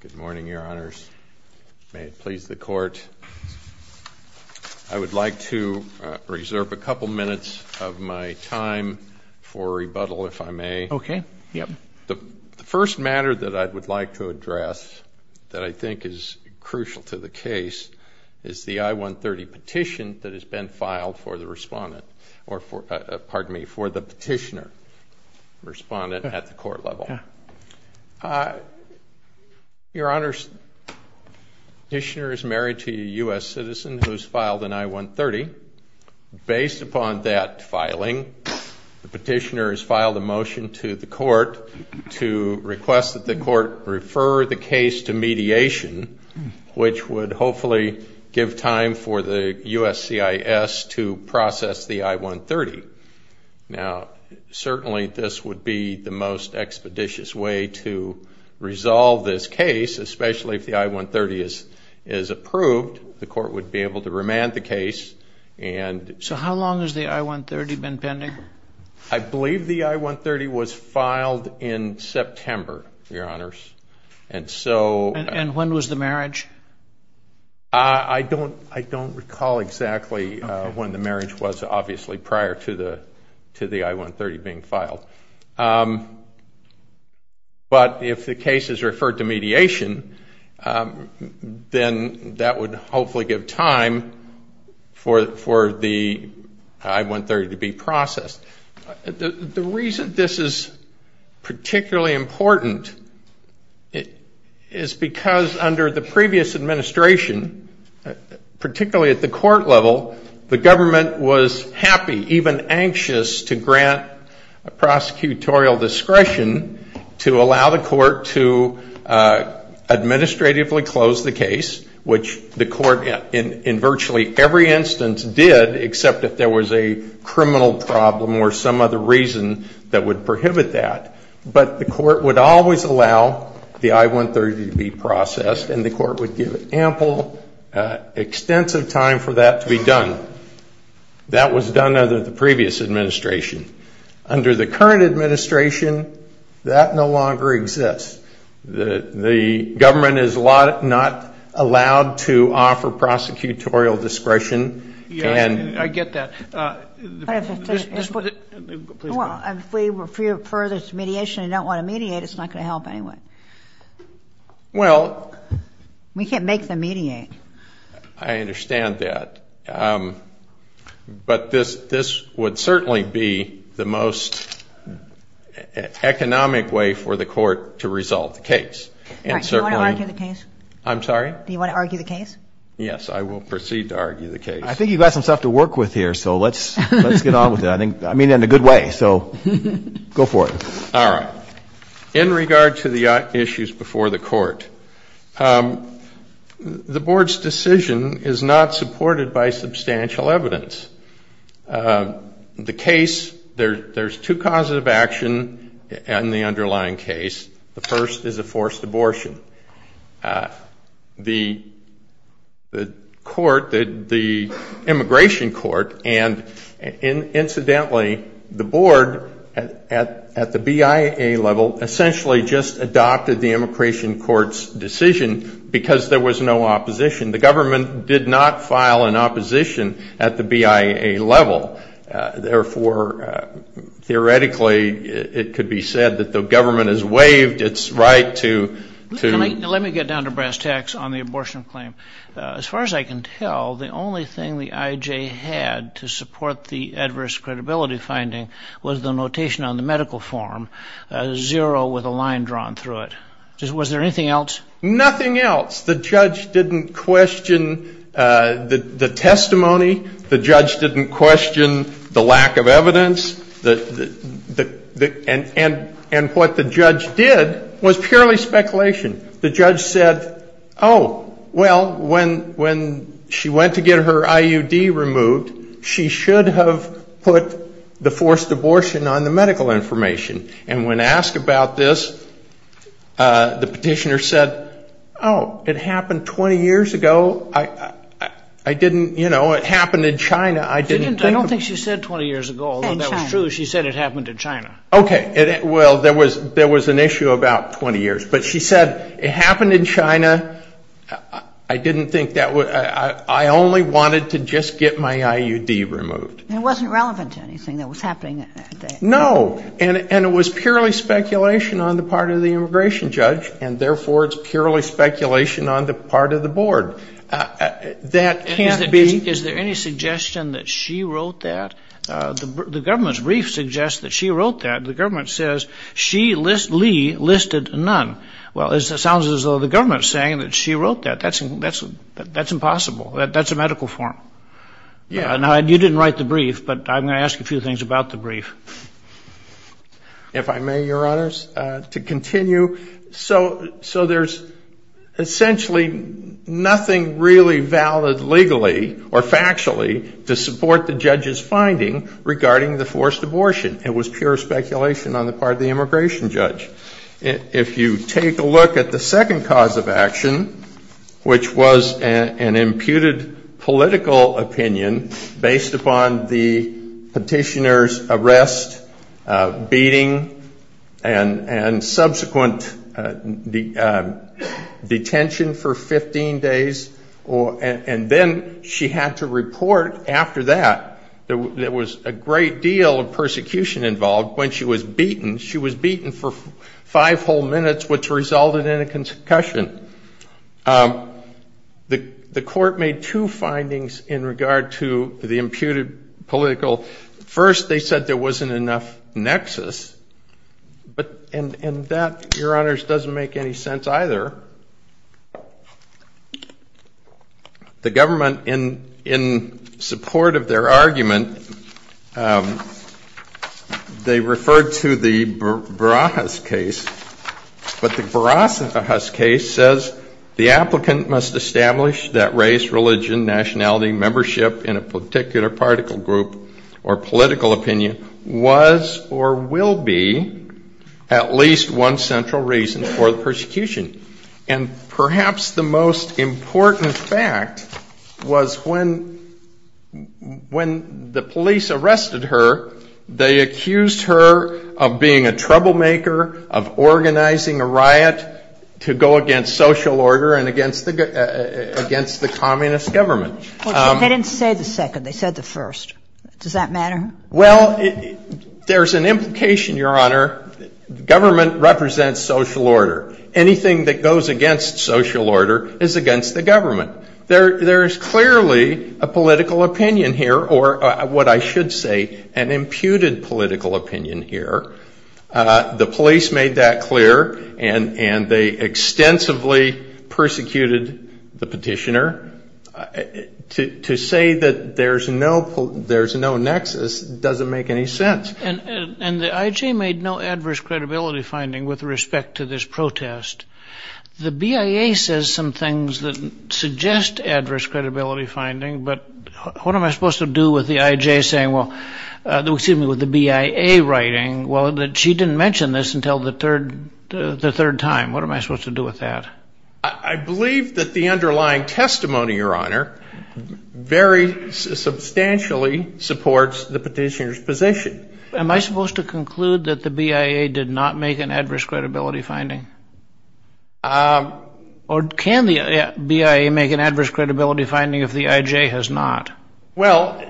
Good morning, your honors. May it please the court. I would like to reserve a couple minutes of my time for rebuttal, if I may. Okay, yeah. The first matter that I would like to address, that I think is crucial to the case, is the I-130 petition that has been filed for the respondent, or for, pardon me, for the respondent. Your honors, the petitioner is married to a U.S. citizen who's filed an I-130. Based upon that filing, the petitioner has filed a motion to the court to request that the court refer the case to mediation, which would hopefully give time for the USCIS to process the I-130. Now, certainly this would be the most case, especially if the I-130 is approved, the court would be able to remand the case. So how long has the I-130 been pending? I believe the I-130 was filed in September, your honors, and so... And when was the marriage? I don't recall exactly when the marriage was, obviously, prior to the I-130 being filed. But if the case is referred to mediation, then that would hopefully give time for the I-130 to be processed. The reason this is particularly important is because under the previous administration, particularly at the court level, the government was happy, even anxious, to grant a prosecutorial discretion to allow the administratively close the case, which the court in virtually every instance did, except if there was a criminal problem or some other reason that would prohibit that. But the court would always allow the I-130 to be processed, and the court would give ample, extensive time for that to be done. That was done under the previous administration. Under the current administration, that no longer exists. The government is not allowed to offer prosecutorial discretion. Yes, I get that. Well, if we refer this to mediation and don't want to mediate, it's not going to help anyway. Well... We can't make them mediate. I understand that, but this would certainly be the most economic way for the court to resolve the case. Do you want to argue the case? I'm sorry? Do you want to argue the case? Yes, I will proceed to argue the case. I think you've got some stuff to work with here, so let's get on with it. I mean, in a good way, so go for it. All right. In regard to the issues before the court, the board's decision is not supported by substantial evidence. The case, there's two causes of action in the underlying case. The first is a forced abortion. The court, the immigration court, and incidentally, the board at the BIA level essentially just adopted the immigration court's decision because there was no opposition. The government did not file an opposition at the BIA level. Therefore, theoretically, it could be said that the government has waived its right to... Let me get down to brass tacks on the abortion claim. As far as I can tell, the only thing the IJ had to support the adverse credibility finding was the notation on the medical form, zero with a line drawn through it. Was there anything else? Nothing else. The judge didn't question the testimony. The judge didn't question the lack of evidence. And what the judge did was purely speculation. The judge said, oh, well, when she went to get her IUD removed, she should have put the forced abortion on the medical information. And when asked about this, the petitioner said, oh, it happened 20 years ago. I didn't, you know, it happened in China. I didn't think... I don't think she said 20 years ago, although that was true. She said it happened in China. Okay. Well, there was an issue about 20 years. But she said it happened in China. I didn't think that... I only wanted to just get my IUD removed. And it wasn't relevant to anything that was happening at that time? No. And it was purely speculation on the part of the immigration judge. And therefore, it's purely speculation on the part of the board. That can't be... Is there any suggestion that she wrote that? The government's brief suggests that she wrote that. The government says she listed none. Well, it sounds as though the government's saying that she wrote that. That's impossible. That's a medical form. Yeah. Now, you didn't write the brief, but I'm going to ask you a few things about the brief. If I may, Your Honors, to continue. So there's essentially nothing really valid legally or factually to support the judge's finding regarding the forced abortion. It was pure speculation on the part of the immigration judge. If you take a look at the second cause of action, which was an imputed political opinion based upon the petitioner's arrest, beating, and subsequent detention for 15 days, and then she had to report after that, there was a great deal of persecution involved when she was beaten. She was beaten for five whole days. The court made two findings in regard to the imputed political... First, they said there wasn't enough nexus, and that, Your Honors, doesn't make any sense either. The government, in support of their argument, they referred to the Barajas case, but the Barajas case says the applicant must establish that race, religion, nationality, membership in a particular particle group or political opinion was or will be at least one central reason for the persecution. And perhaps the most important fact was when the police arrested her, they accused her of being a troublemaker, of organizing a riot to go against social order and against the communist government. They didn't say the second. They said the first. Does that matter? Well, there's an implication, Your Honor. Government represents social order. Anything that goes against social order is against the government. There is clearly a political opinion here. The police made that clear, and they extensively persecuted the petitioner. To say that there's no nexus doesn't make any sense. And the IJ made no adverse credibility finding with respect to this protest. The BIA says some things that suggest adverse credibility finding, but what am I supposed to do with the IJ saying, well, excuse me, with the BIA writing, well, she didn't mention this until the third time. What am I supposed to do with that? I believe that the underlying testimony, Your Honor, very substantially supports the petitioner's position. Am I supposed to conclude that the BIA did not make an adverse credibility finding? Or can the BIA make an adverse credibility finding if the IJ has not? Well,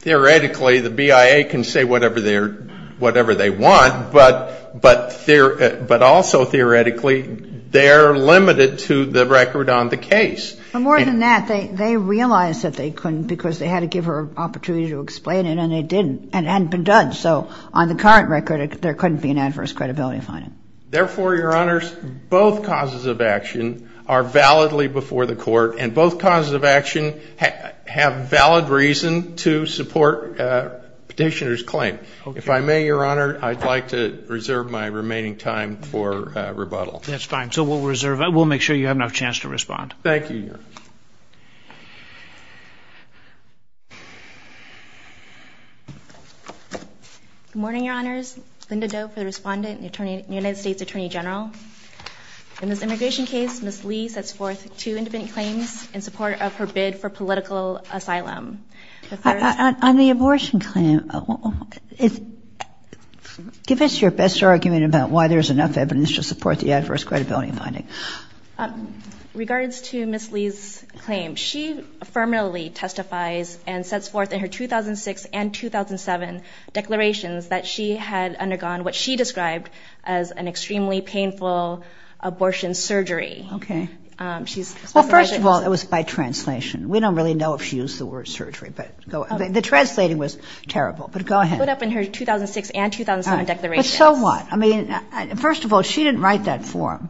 theoretically, the BIA can say whatever they want, but also theoretically, they're limited to the record on the case. But more than that, they realized that they couldn't because they had to give her an opportunity to explain it, and they didn't. And it hadn't been done. So on the current record, there couldn't be an adverse credibility finding. Therefore, Your Honors, both causes of action are validly before the court, and both causes of action have valid reason to support a petitioner's claim. If I may, Your Honor, I'd like to reserve my remaining time for rebuttal. That's fine. So we'll reserve it. We'll make sure you have enough chance to respond. Thank you, Your Honor. Good morning, Your Honors. Linda Doe for the Respondent and the United States Attorney General. In this immigration case, Ms. Lee sets forth two independent claims in support of her bid for political asylum. On the abortion claim, give us your best argument about why there's enough evidence to support the adverse credibility finding. Regards to Ms. Lee's claim, she affirmatively testifies and sets forth in her 2006 and 2007 declarations that she had undergone what she described as an extremely painful abortion surgery. Okay. Well, first of all, it was by translation. We don't really know if she used the word surgery, but the translating was terrible. But go ahead. It was put up in her 2006 and 2007 declarations. But so what? I mean, first of all, she didn't write that form.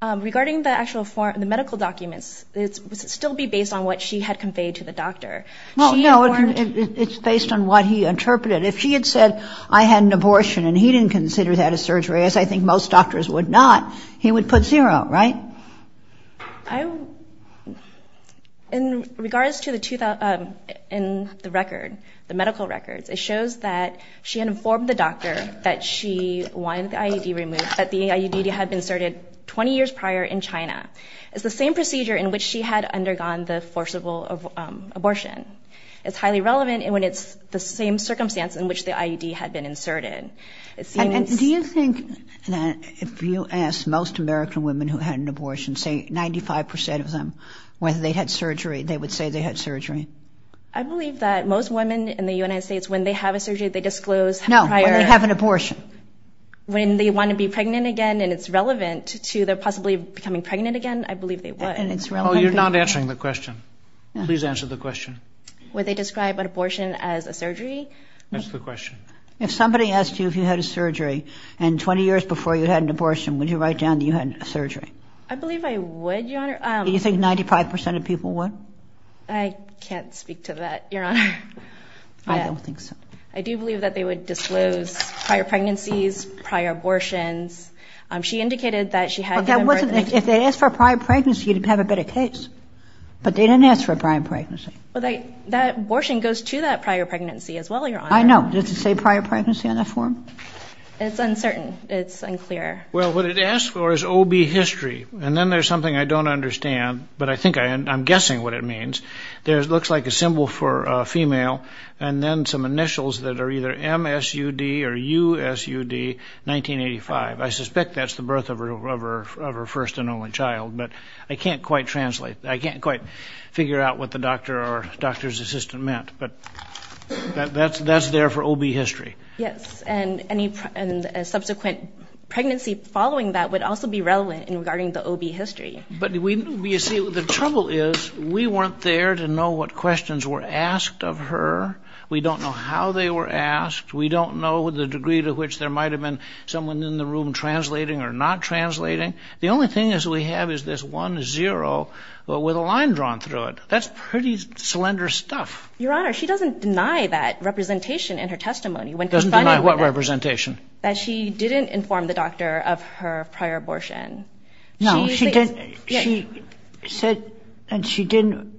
Regarding the actual form, the medical documents, it would still be based on what she had conveyed to the doctor. Well, no, it's based on what he interpreted. If she had said, I had an abortion and he didn't consider that a surgery, as I think most doctors would not, he would put zero, right? In regards to the record, the medical records, it shows that she informed the doctor that she wanted the IUD removed, that the IUD had been inserted 20 years prior in China. It's the same procedure in which she had undergone the forcible abortion. It's highly relevant when it's the same circumstance in which the IUD had been inserted. And do you think that if you ask most American women who had an abortion, say 95% of them, whether they'd had surgery, they would say they had surgery? I believe that most women in the United States, when they have a surgery, they disclose how prior... No, when they have an abortion. When they want to be pregnant again, and it's relevant to their possibly becoming pregnant again, I believe they would. And it's relevant... Oh, you're not answering the question. Please answer the question. Would they describe an abortion as a surgery? That's the question. If somebody asked you if you had a surgery, and 20 years before you had an abortion, would you write down that you had surgery? I believe I would, Your Honor. Do you think 95% of people would? I can't speak to that, Your Honor. I don't think so. I do believe that they would disclose prior pregnancies, prior abortions. She indicated that she had... If they asked for a prior pregnancy, you'd have a better case. But they didn't ask for a prior pregnancy. Well, that abortion goes to that prior pregnancy as well, Your Honor. I know. Does it say prior pregnancy on that form? It's uncertain. It's unclear. Well, what it asks for is OB history. And then there's something I don't understand, but I think I'm guessing what it means. There looks like a symbol for female, and then some for first and only child. But I can't quite translate. I can't quite figure out what the doctor or doctor's assistant meant. But that's there for OB history. Yes. And a subsequent pregnancy following that would also be relevant in regarding the OB history. But you see, the trouble is, we weren't there to know what questions were asked of her. We don't know how they were asked. We don't know the degree to which there might have been someone in the room translating or not translating. The only thing that we have is this 1-0 with a line drawn through it. That's pretty slender stuff. Your Honor, she doesn't deny that representation in her testimony when confronted with it. Doesn't deny what representation? That she didn't inform the doctor of her prior abortion. No, she didn't. She said that she didn't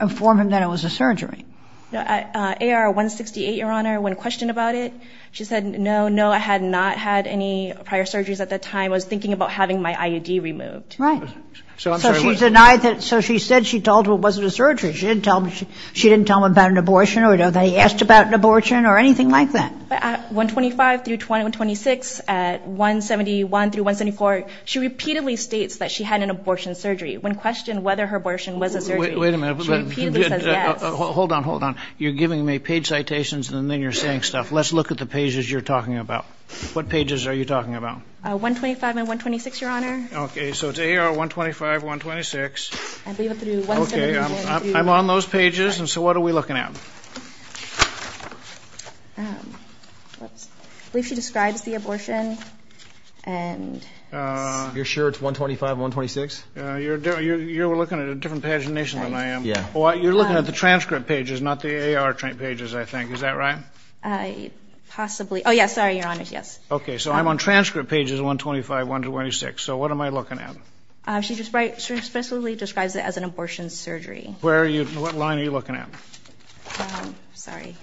inform him that it was a surgery. No, at AR-168, Your Honor, when questioned about it, she said, no, no, I had not had any prior surgeries at that time. I was thinking about having my IUD removed. Right. So she said she told him it wasn't a surgery. She didn't tell him about an abortion or that he asked about an abortion or anything like that. But at 125 through 126, at 171 through 174, she repeatedly states that she had an abortion surgery. When questioned whether her abortion was a surgery, she repeatedly says yes. Hold on, hold on. You're giving me page citations and then you're saying stuff. Let's look at the pages you're talking about. What pages are you talking about? 125 and 126, Your Honor. Okay, so it's AR-125, 126. I believe it's through 171. Okay, I'm on those pages. So what are we looking at? I believe she describes the abortion and... You're sure it's 125 and 126? You're looking at a different pagination than I am. You're looking at the transcript pages, not the AR pages, I think. Is that right? Possibly. Oh, yes. Sorry, Your Honor. Yes. Okay, so I'm on transcript pages 125, 126. So what am I looking at? She specifically describes it as an abortion surgery. Where are you... What line are you looking at? Sorry.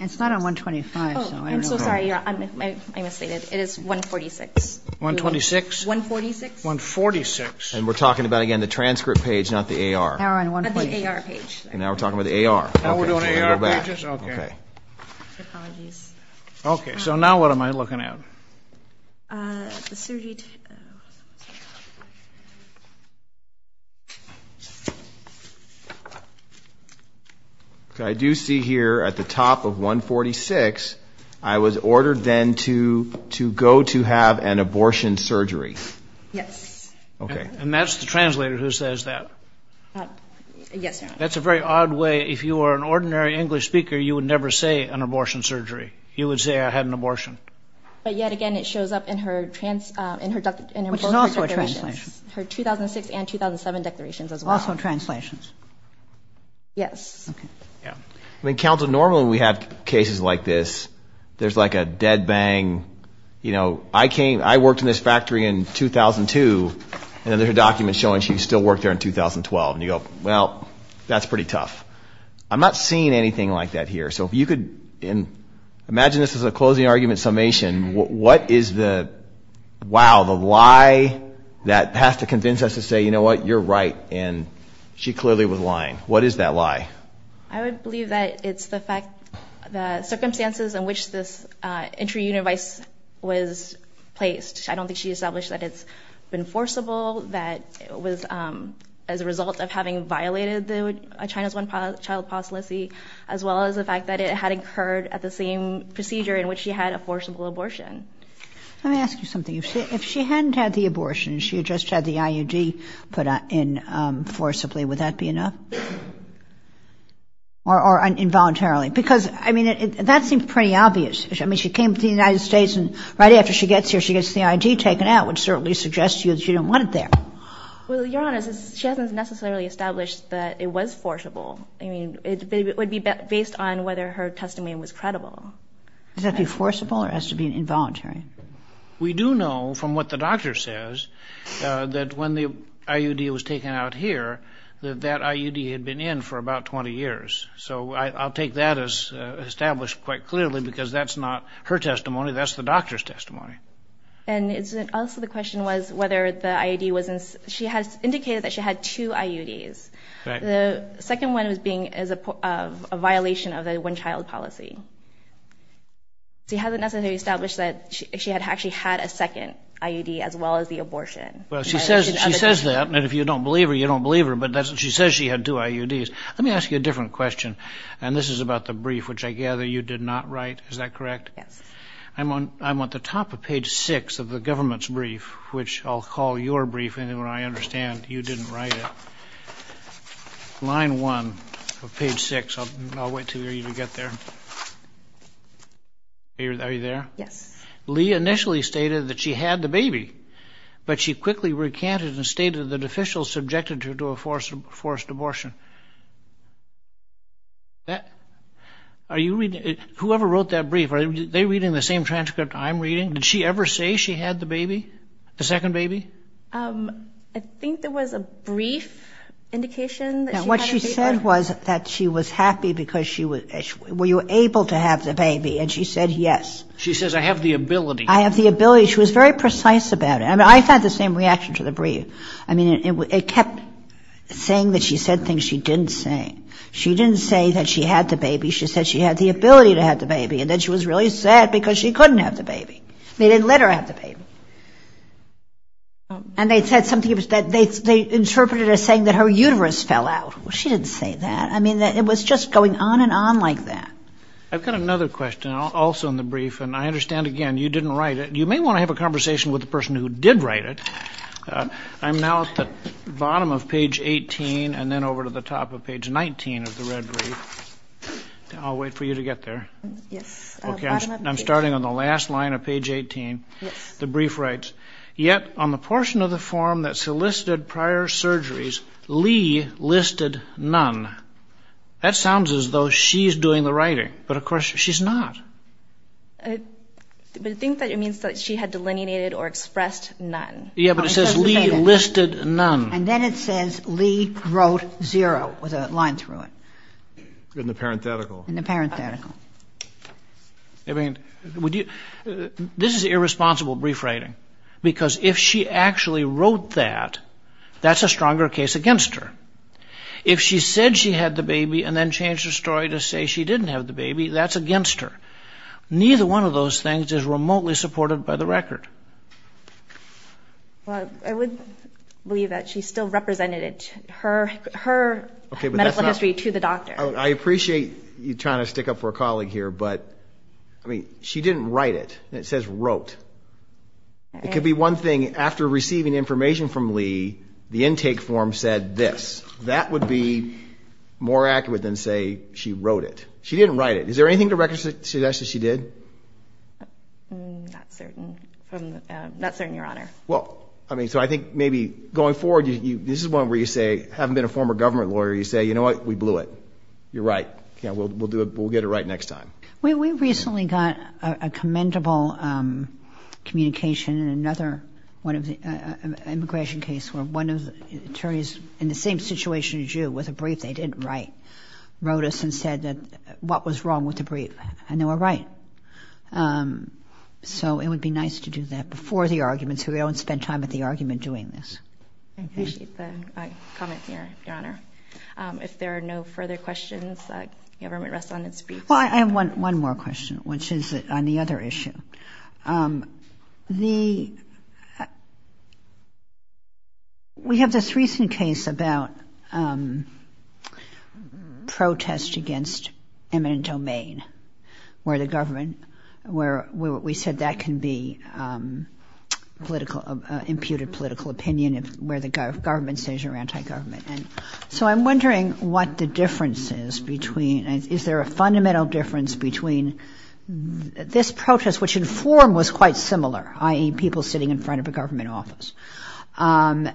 It's not on 125. Oh, I'm so sorry, Your Honor. I misstated. It is 146. 126? 146. 146. And we're talking about, again, the transcript page, not the AR. Now we're on AR page. And now we're talking about the AR. Now we're doing AR pages? Okay. Okay. Apologies. Okay, so now what am I looking at? The surgery... Okay, I do see here at the top of 146, I was ordered then to go to have an abortion surgery. Yes. Okay. And that's the translator who says that? Yes, Your Honor. That's a very odd way. If you were an ordinary English speaker, you would never say an abortion surgery. You would say, I had an abortion. Yes, Your Honor. Okay. Okay. Okay. Okay. Okay. Okay. Which is also a translation. Her 2006 and 2007 declarations as well. Also translations. Yes. Okay. Yeah. I mean, counsel, normally when we have cases like this, there's like a dead bang. You know, I came, I worked in this factory in 2002, and then there's a document showing she still worked there in 2012. And you go, well, that's pretty tough. I'm not seeing anything like that here. So if you could imagine this as a closing argument summation. What is the, wow, the lie that has to convince us to say, you know what, you're right, and she clearly was lying. What is that lie? I would believe that it's the fact, the circumstances in which this entry unit advice was placed. I don't think she established that it's been forcible, that it was as a result of having violated China's one-child policy, as well as the fact that it had occurred at the same procedure in which she had a forcible abortion. Let me ask you something. If she hadn't had the abortion and she had just had the IUD put in forcibly, would that be enough? Or involuntarily? Because, I mean, that seems pretty obvious. I mean, she came to the United States, and right after she gets here, she gets the IUD taken out, which certainly suggests to you that you don't want it there. Well, Your Honor, she hasn't necessarily established that it was forcible. I mean, it would be based on whether her testimony was credible. Does that be forcible, or does it have to be involuntary? We do know, from what the doctor says, that when the IUD was taken out here, that that IUD had been in for about 20 years. So I'll take that as established quite clearly, because that's not her testimony. That's the doctor's testimony. And also the question was whether the IUD was in – she has indicated that she had two IUDs. The second one was being a violation of the one-child policy. She hasn't necessarily established that she had actually had a second IUD, as well as the abortion. Well, she says that, and if you don't believe her, you don't believe her, but she says she had two IUDs. Let me ask you a different question, and this is about the brief, which I gather you did not write, is that correct? I'm at the top of page six of the government's brief, which I'll call your brief, and I understand you didn't write it. Line one of page six. I'll wait for you to get there. Are you there? Yes. Lee initially stated that she had the baby, but she quickly recanted and stated that officials subjected her to a forced abortion. Whoever wrote that brief, are they reading the same transcript I'm reading? Did she ever say she had the baby, the second baby? I think there was a brief indication that she had a baby. What she said was that she was happy because she was able to have the baby, and she said yes. She says, I have the ability. I have the ability. She was very precise about it. I mean, I had the same reaction to the brief. I mean, it kept saying that she said things she didn't say. She didn't say that she had the baby. She said she had the ability to have the baby, and then she was really sad because she couldn't have the baby. They didn't let her have the baby. And they interpreted it as saying that her uterus fell out. She didn't say that. I mean, it was just going on and on like that. I've got another question also in the brief, and I understand, again, you didn't write it. You may want to have a conversation with the person who did write it. I'm now at the bottom of page 18 and then over to the top of page 19 of the red brief. I'll wait for you to get there. Yes. I'm starting on the last line of page 18. Yes. The brief writes, yet on the portion of the form that solicited prior surgeries, Lee listed none. That sounds as though she's doing the writing, but of course she's not. But I think that it means that she had delineated or expressed none. Yeah, but it says Lee listed none. And then it says Lee wrote zero with a line through it. In the parenthetical. In the parenthetical. This is irresponsible brief writing, because if she actually wrote that, that's a stronger case against her. If she said she had the baby and then changed her story to say she didn't have the baby, that's against her. Neither one of those things is remotely supported by the record. I would believe that she still represented her medical history to the doctor. I appreciate you trying to stick up for a colleague here, but she didn't write it. It says wrote. It could be one thing. After receiving information from Lee, the intake form said this. That would be more accurate than say she wrote it. She didn't write it. Is there anything to recognize that she did? I'm not certain, Your Honor. Well, I mean, so I think maybe going forward, this is one where you say, having been a former government lawyer, you say, you know what? We blew it. You're right. We'll get it right next time. We recently got a commendable communication in another immigration case where one of the attorneys in the same situation as you with a brief they didn't write wrote us and said what was wrong with the brief. And they were right. So it would be nice to do that before the argument so we don't spend time at the argument doing this. I appreciate the comment, Your Honor. If there are no further questions, the government rests on its briefs. Well, I have one more question, which is on the other issue. We have this recent case about protest against eminent domain where we said that can be imputed political opinion where the government says you're anti-government. So I'm wondering what the difference is between, is there a fundamental difference between this protest, which in form was quite similar, i.e. people sitting in front of a government office, and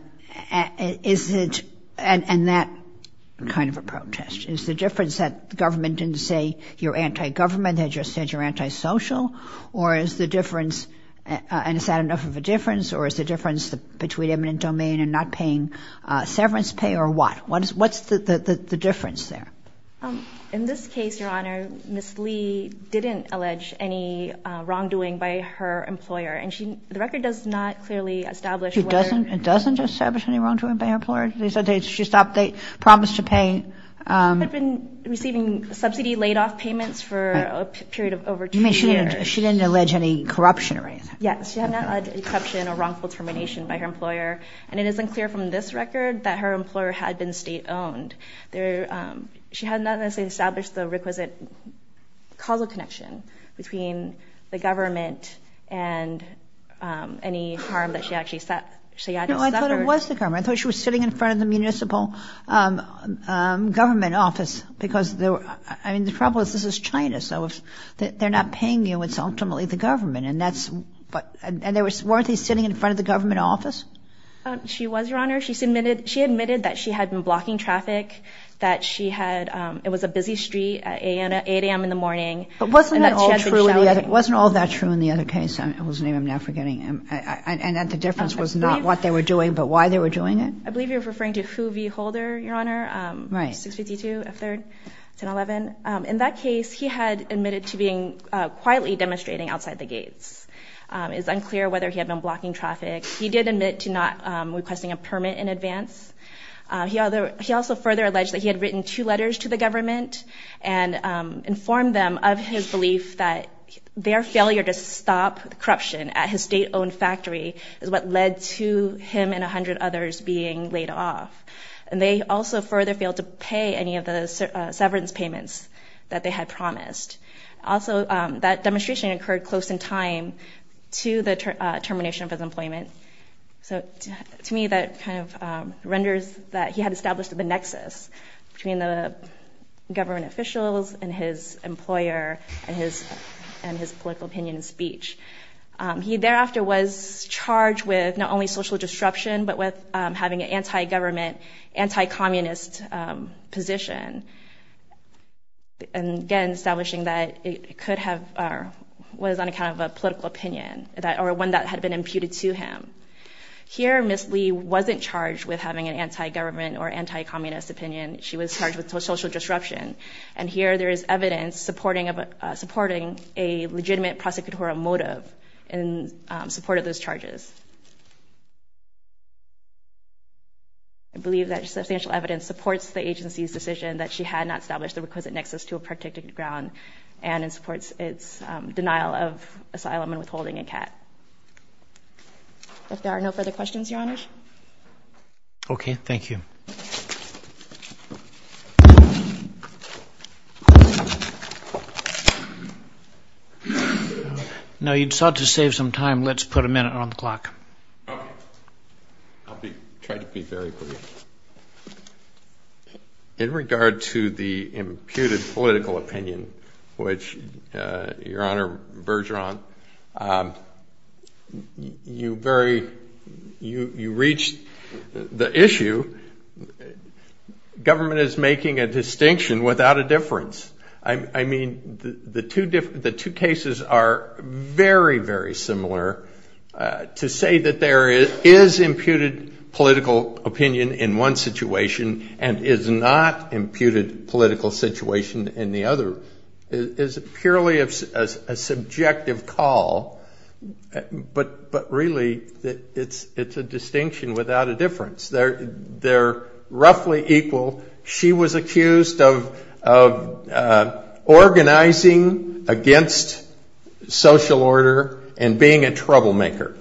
that kind of a protest? Is the difference that the government didn't say you're anti-government, they just said you're anti-social? Or is the difference, and is that enough of a difference? Or is the difference between eminent domain and not paying severance pay or what? What's the difference there? In this case, Your Honor, Ms. Lee didn't allege any wrongdoing by her employer. And the record does not clearly establish whether... It doesn't establish any wrongdoing by her employer? They said she stopped, they promised to pay... Had been receiving subsidy laid-off payments You mean she didn't allege any corruption or anything? Yes, she did not allege any corruption or wrongful termination by her employer. And it is unclear from this record that her employer had been state-owned. She had not necessarily established the requisite causal connection between the government and any harm that she actually suffered. No, I thought it was the government. I thought she was sitting in front of the municipal government office. Because the trouble is, this is China. So if they're not paying you, it's ultimately the government. And weren't they sitting in front of the government office? She was, Your Honor. She admitted that she had been blocking traffic, that it was a busy street at 8 a.m. in the morning. But wasn't that all true in the other case? I'm now forgetting. And that the difference was not what they were doing, but why they were doing it? I believe you're referring to Hu V. Holder, Your Honor. Right. 652 F. 3rd, 1011. In that case, he had admitted to being quietly demonstrating outside the gates. It's unclear whether he had been blocking traffic. He did admit to not requesting a permit in advance. He also further alleged that he had written two letters to the government and informed them of his belief that their failure to stop corruption at his state-owned factory is what led to him and 100 others being laid off. And they also further failed to pay any of the severance payments that they had promised. Also, that demonstration occurred close in time to the termination of his employment. So to me, that kind of renders that he had established a nexus between the government officials and his employer and his political opinion and speech. He thereafter was charged with not only social disruption, but with having an anti-government, anti-communist position. And again, establishing that it was on account of a political opinion or one that had been imputed to him. Here, Ms. Lee wasn't charged with having an anti-government or anti-communist opinion. She was charged with social disruption. And here, there is evidence supporting a legitimate prosecutorial motive in support of those charges. I believe that substantial evidence supports the agency's decision that she had not established the requisite nexus to a protected ground. And it supports its denial of asylum and withholding in CAT. If there are no further questions, Your Honor? Okay, thank you. Now, you sought to save some time. Let's put a minute on the clock. Okay. I'll try to be very brief. In regard to the imputed political opinion, which, Your Honor Bergeron, you very, you reached the issue. Government is making a distinction without a difference. I mean, the two cases are very, very similar to say that there is imputed political opinion in one situation and is not imputed political situation in the other is purely a subjective call. But really, it's a distinction without a difference. They're roughly equal. She was accused of organizing against social order and being a troublemaker.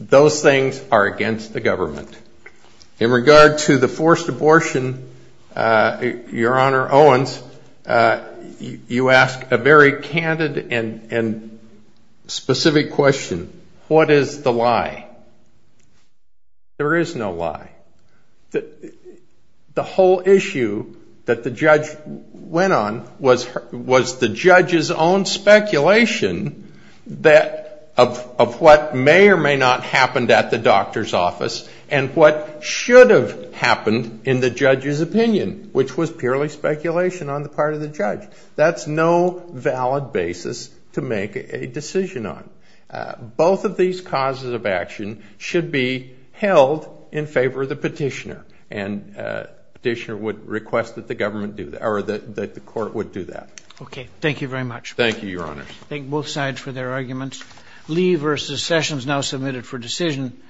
Those things are against the government. In regard to the forced abortion, Your Honor Owens, you ask a very candid and specific question. What is the lie? There is no lie. The whole issue that the judge went on was the judge's own speculation that of what may or may not happened at the doctor's office and what should have happened in the judge's opinion, which was purely speculation on the part of the judge. That's no valid basis to make a decision on. Both of these causes of action should be held in favor of the petitioner. And petitioner would request that the government do that or that the court would do that. Okay. Thank you very much. Thank you, Your Honor. Thank both sides for their arguments. Lee v. Sessions now submitted for decision.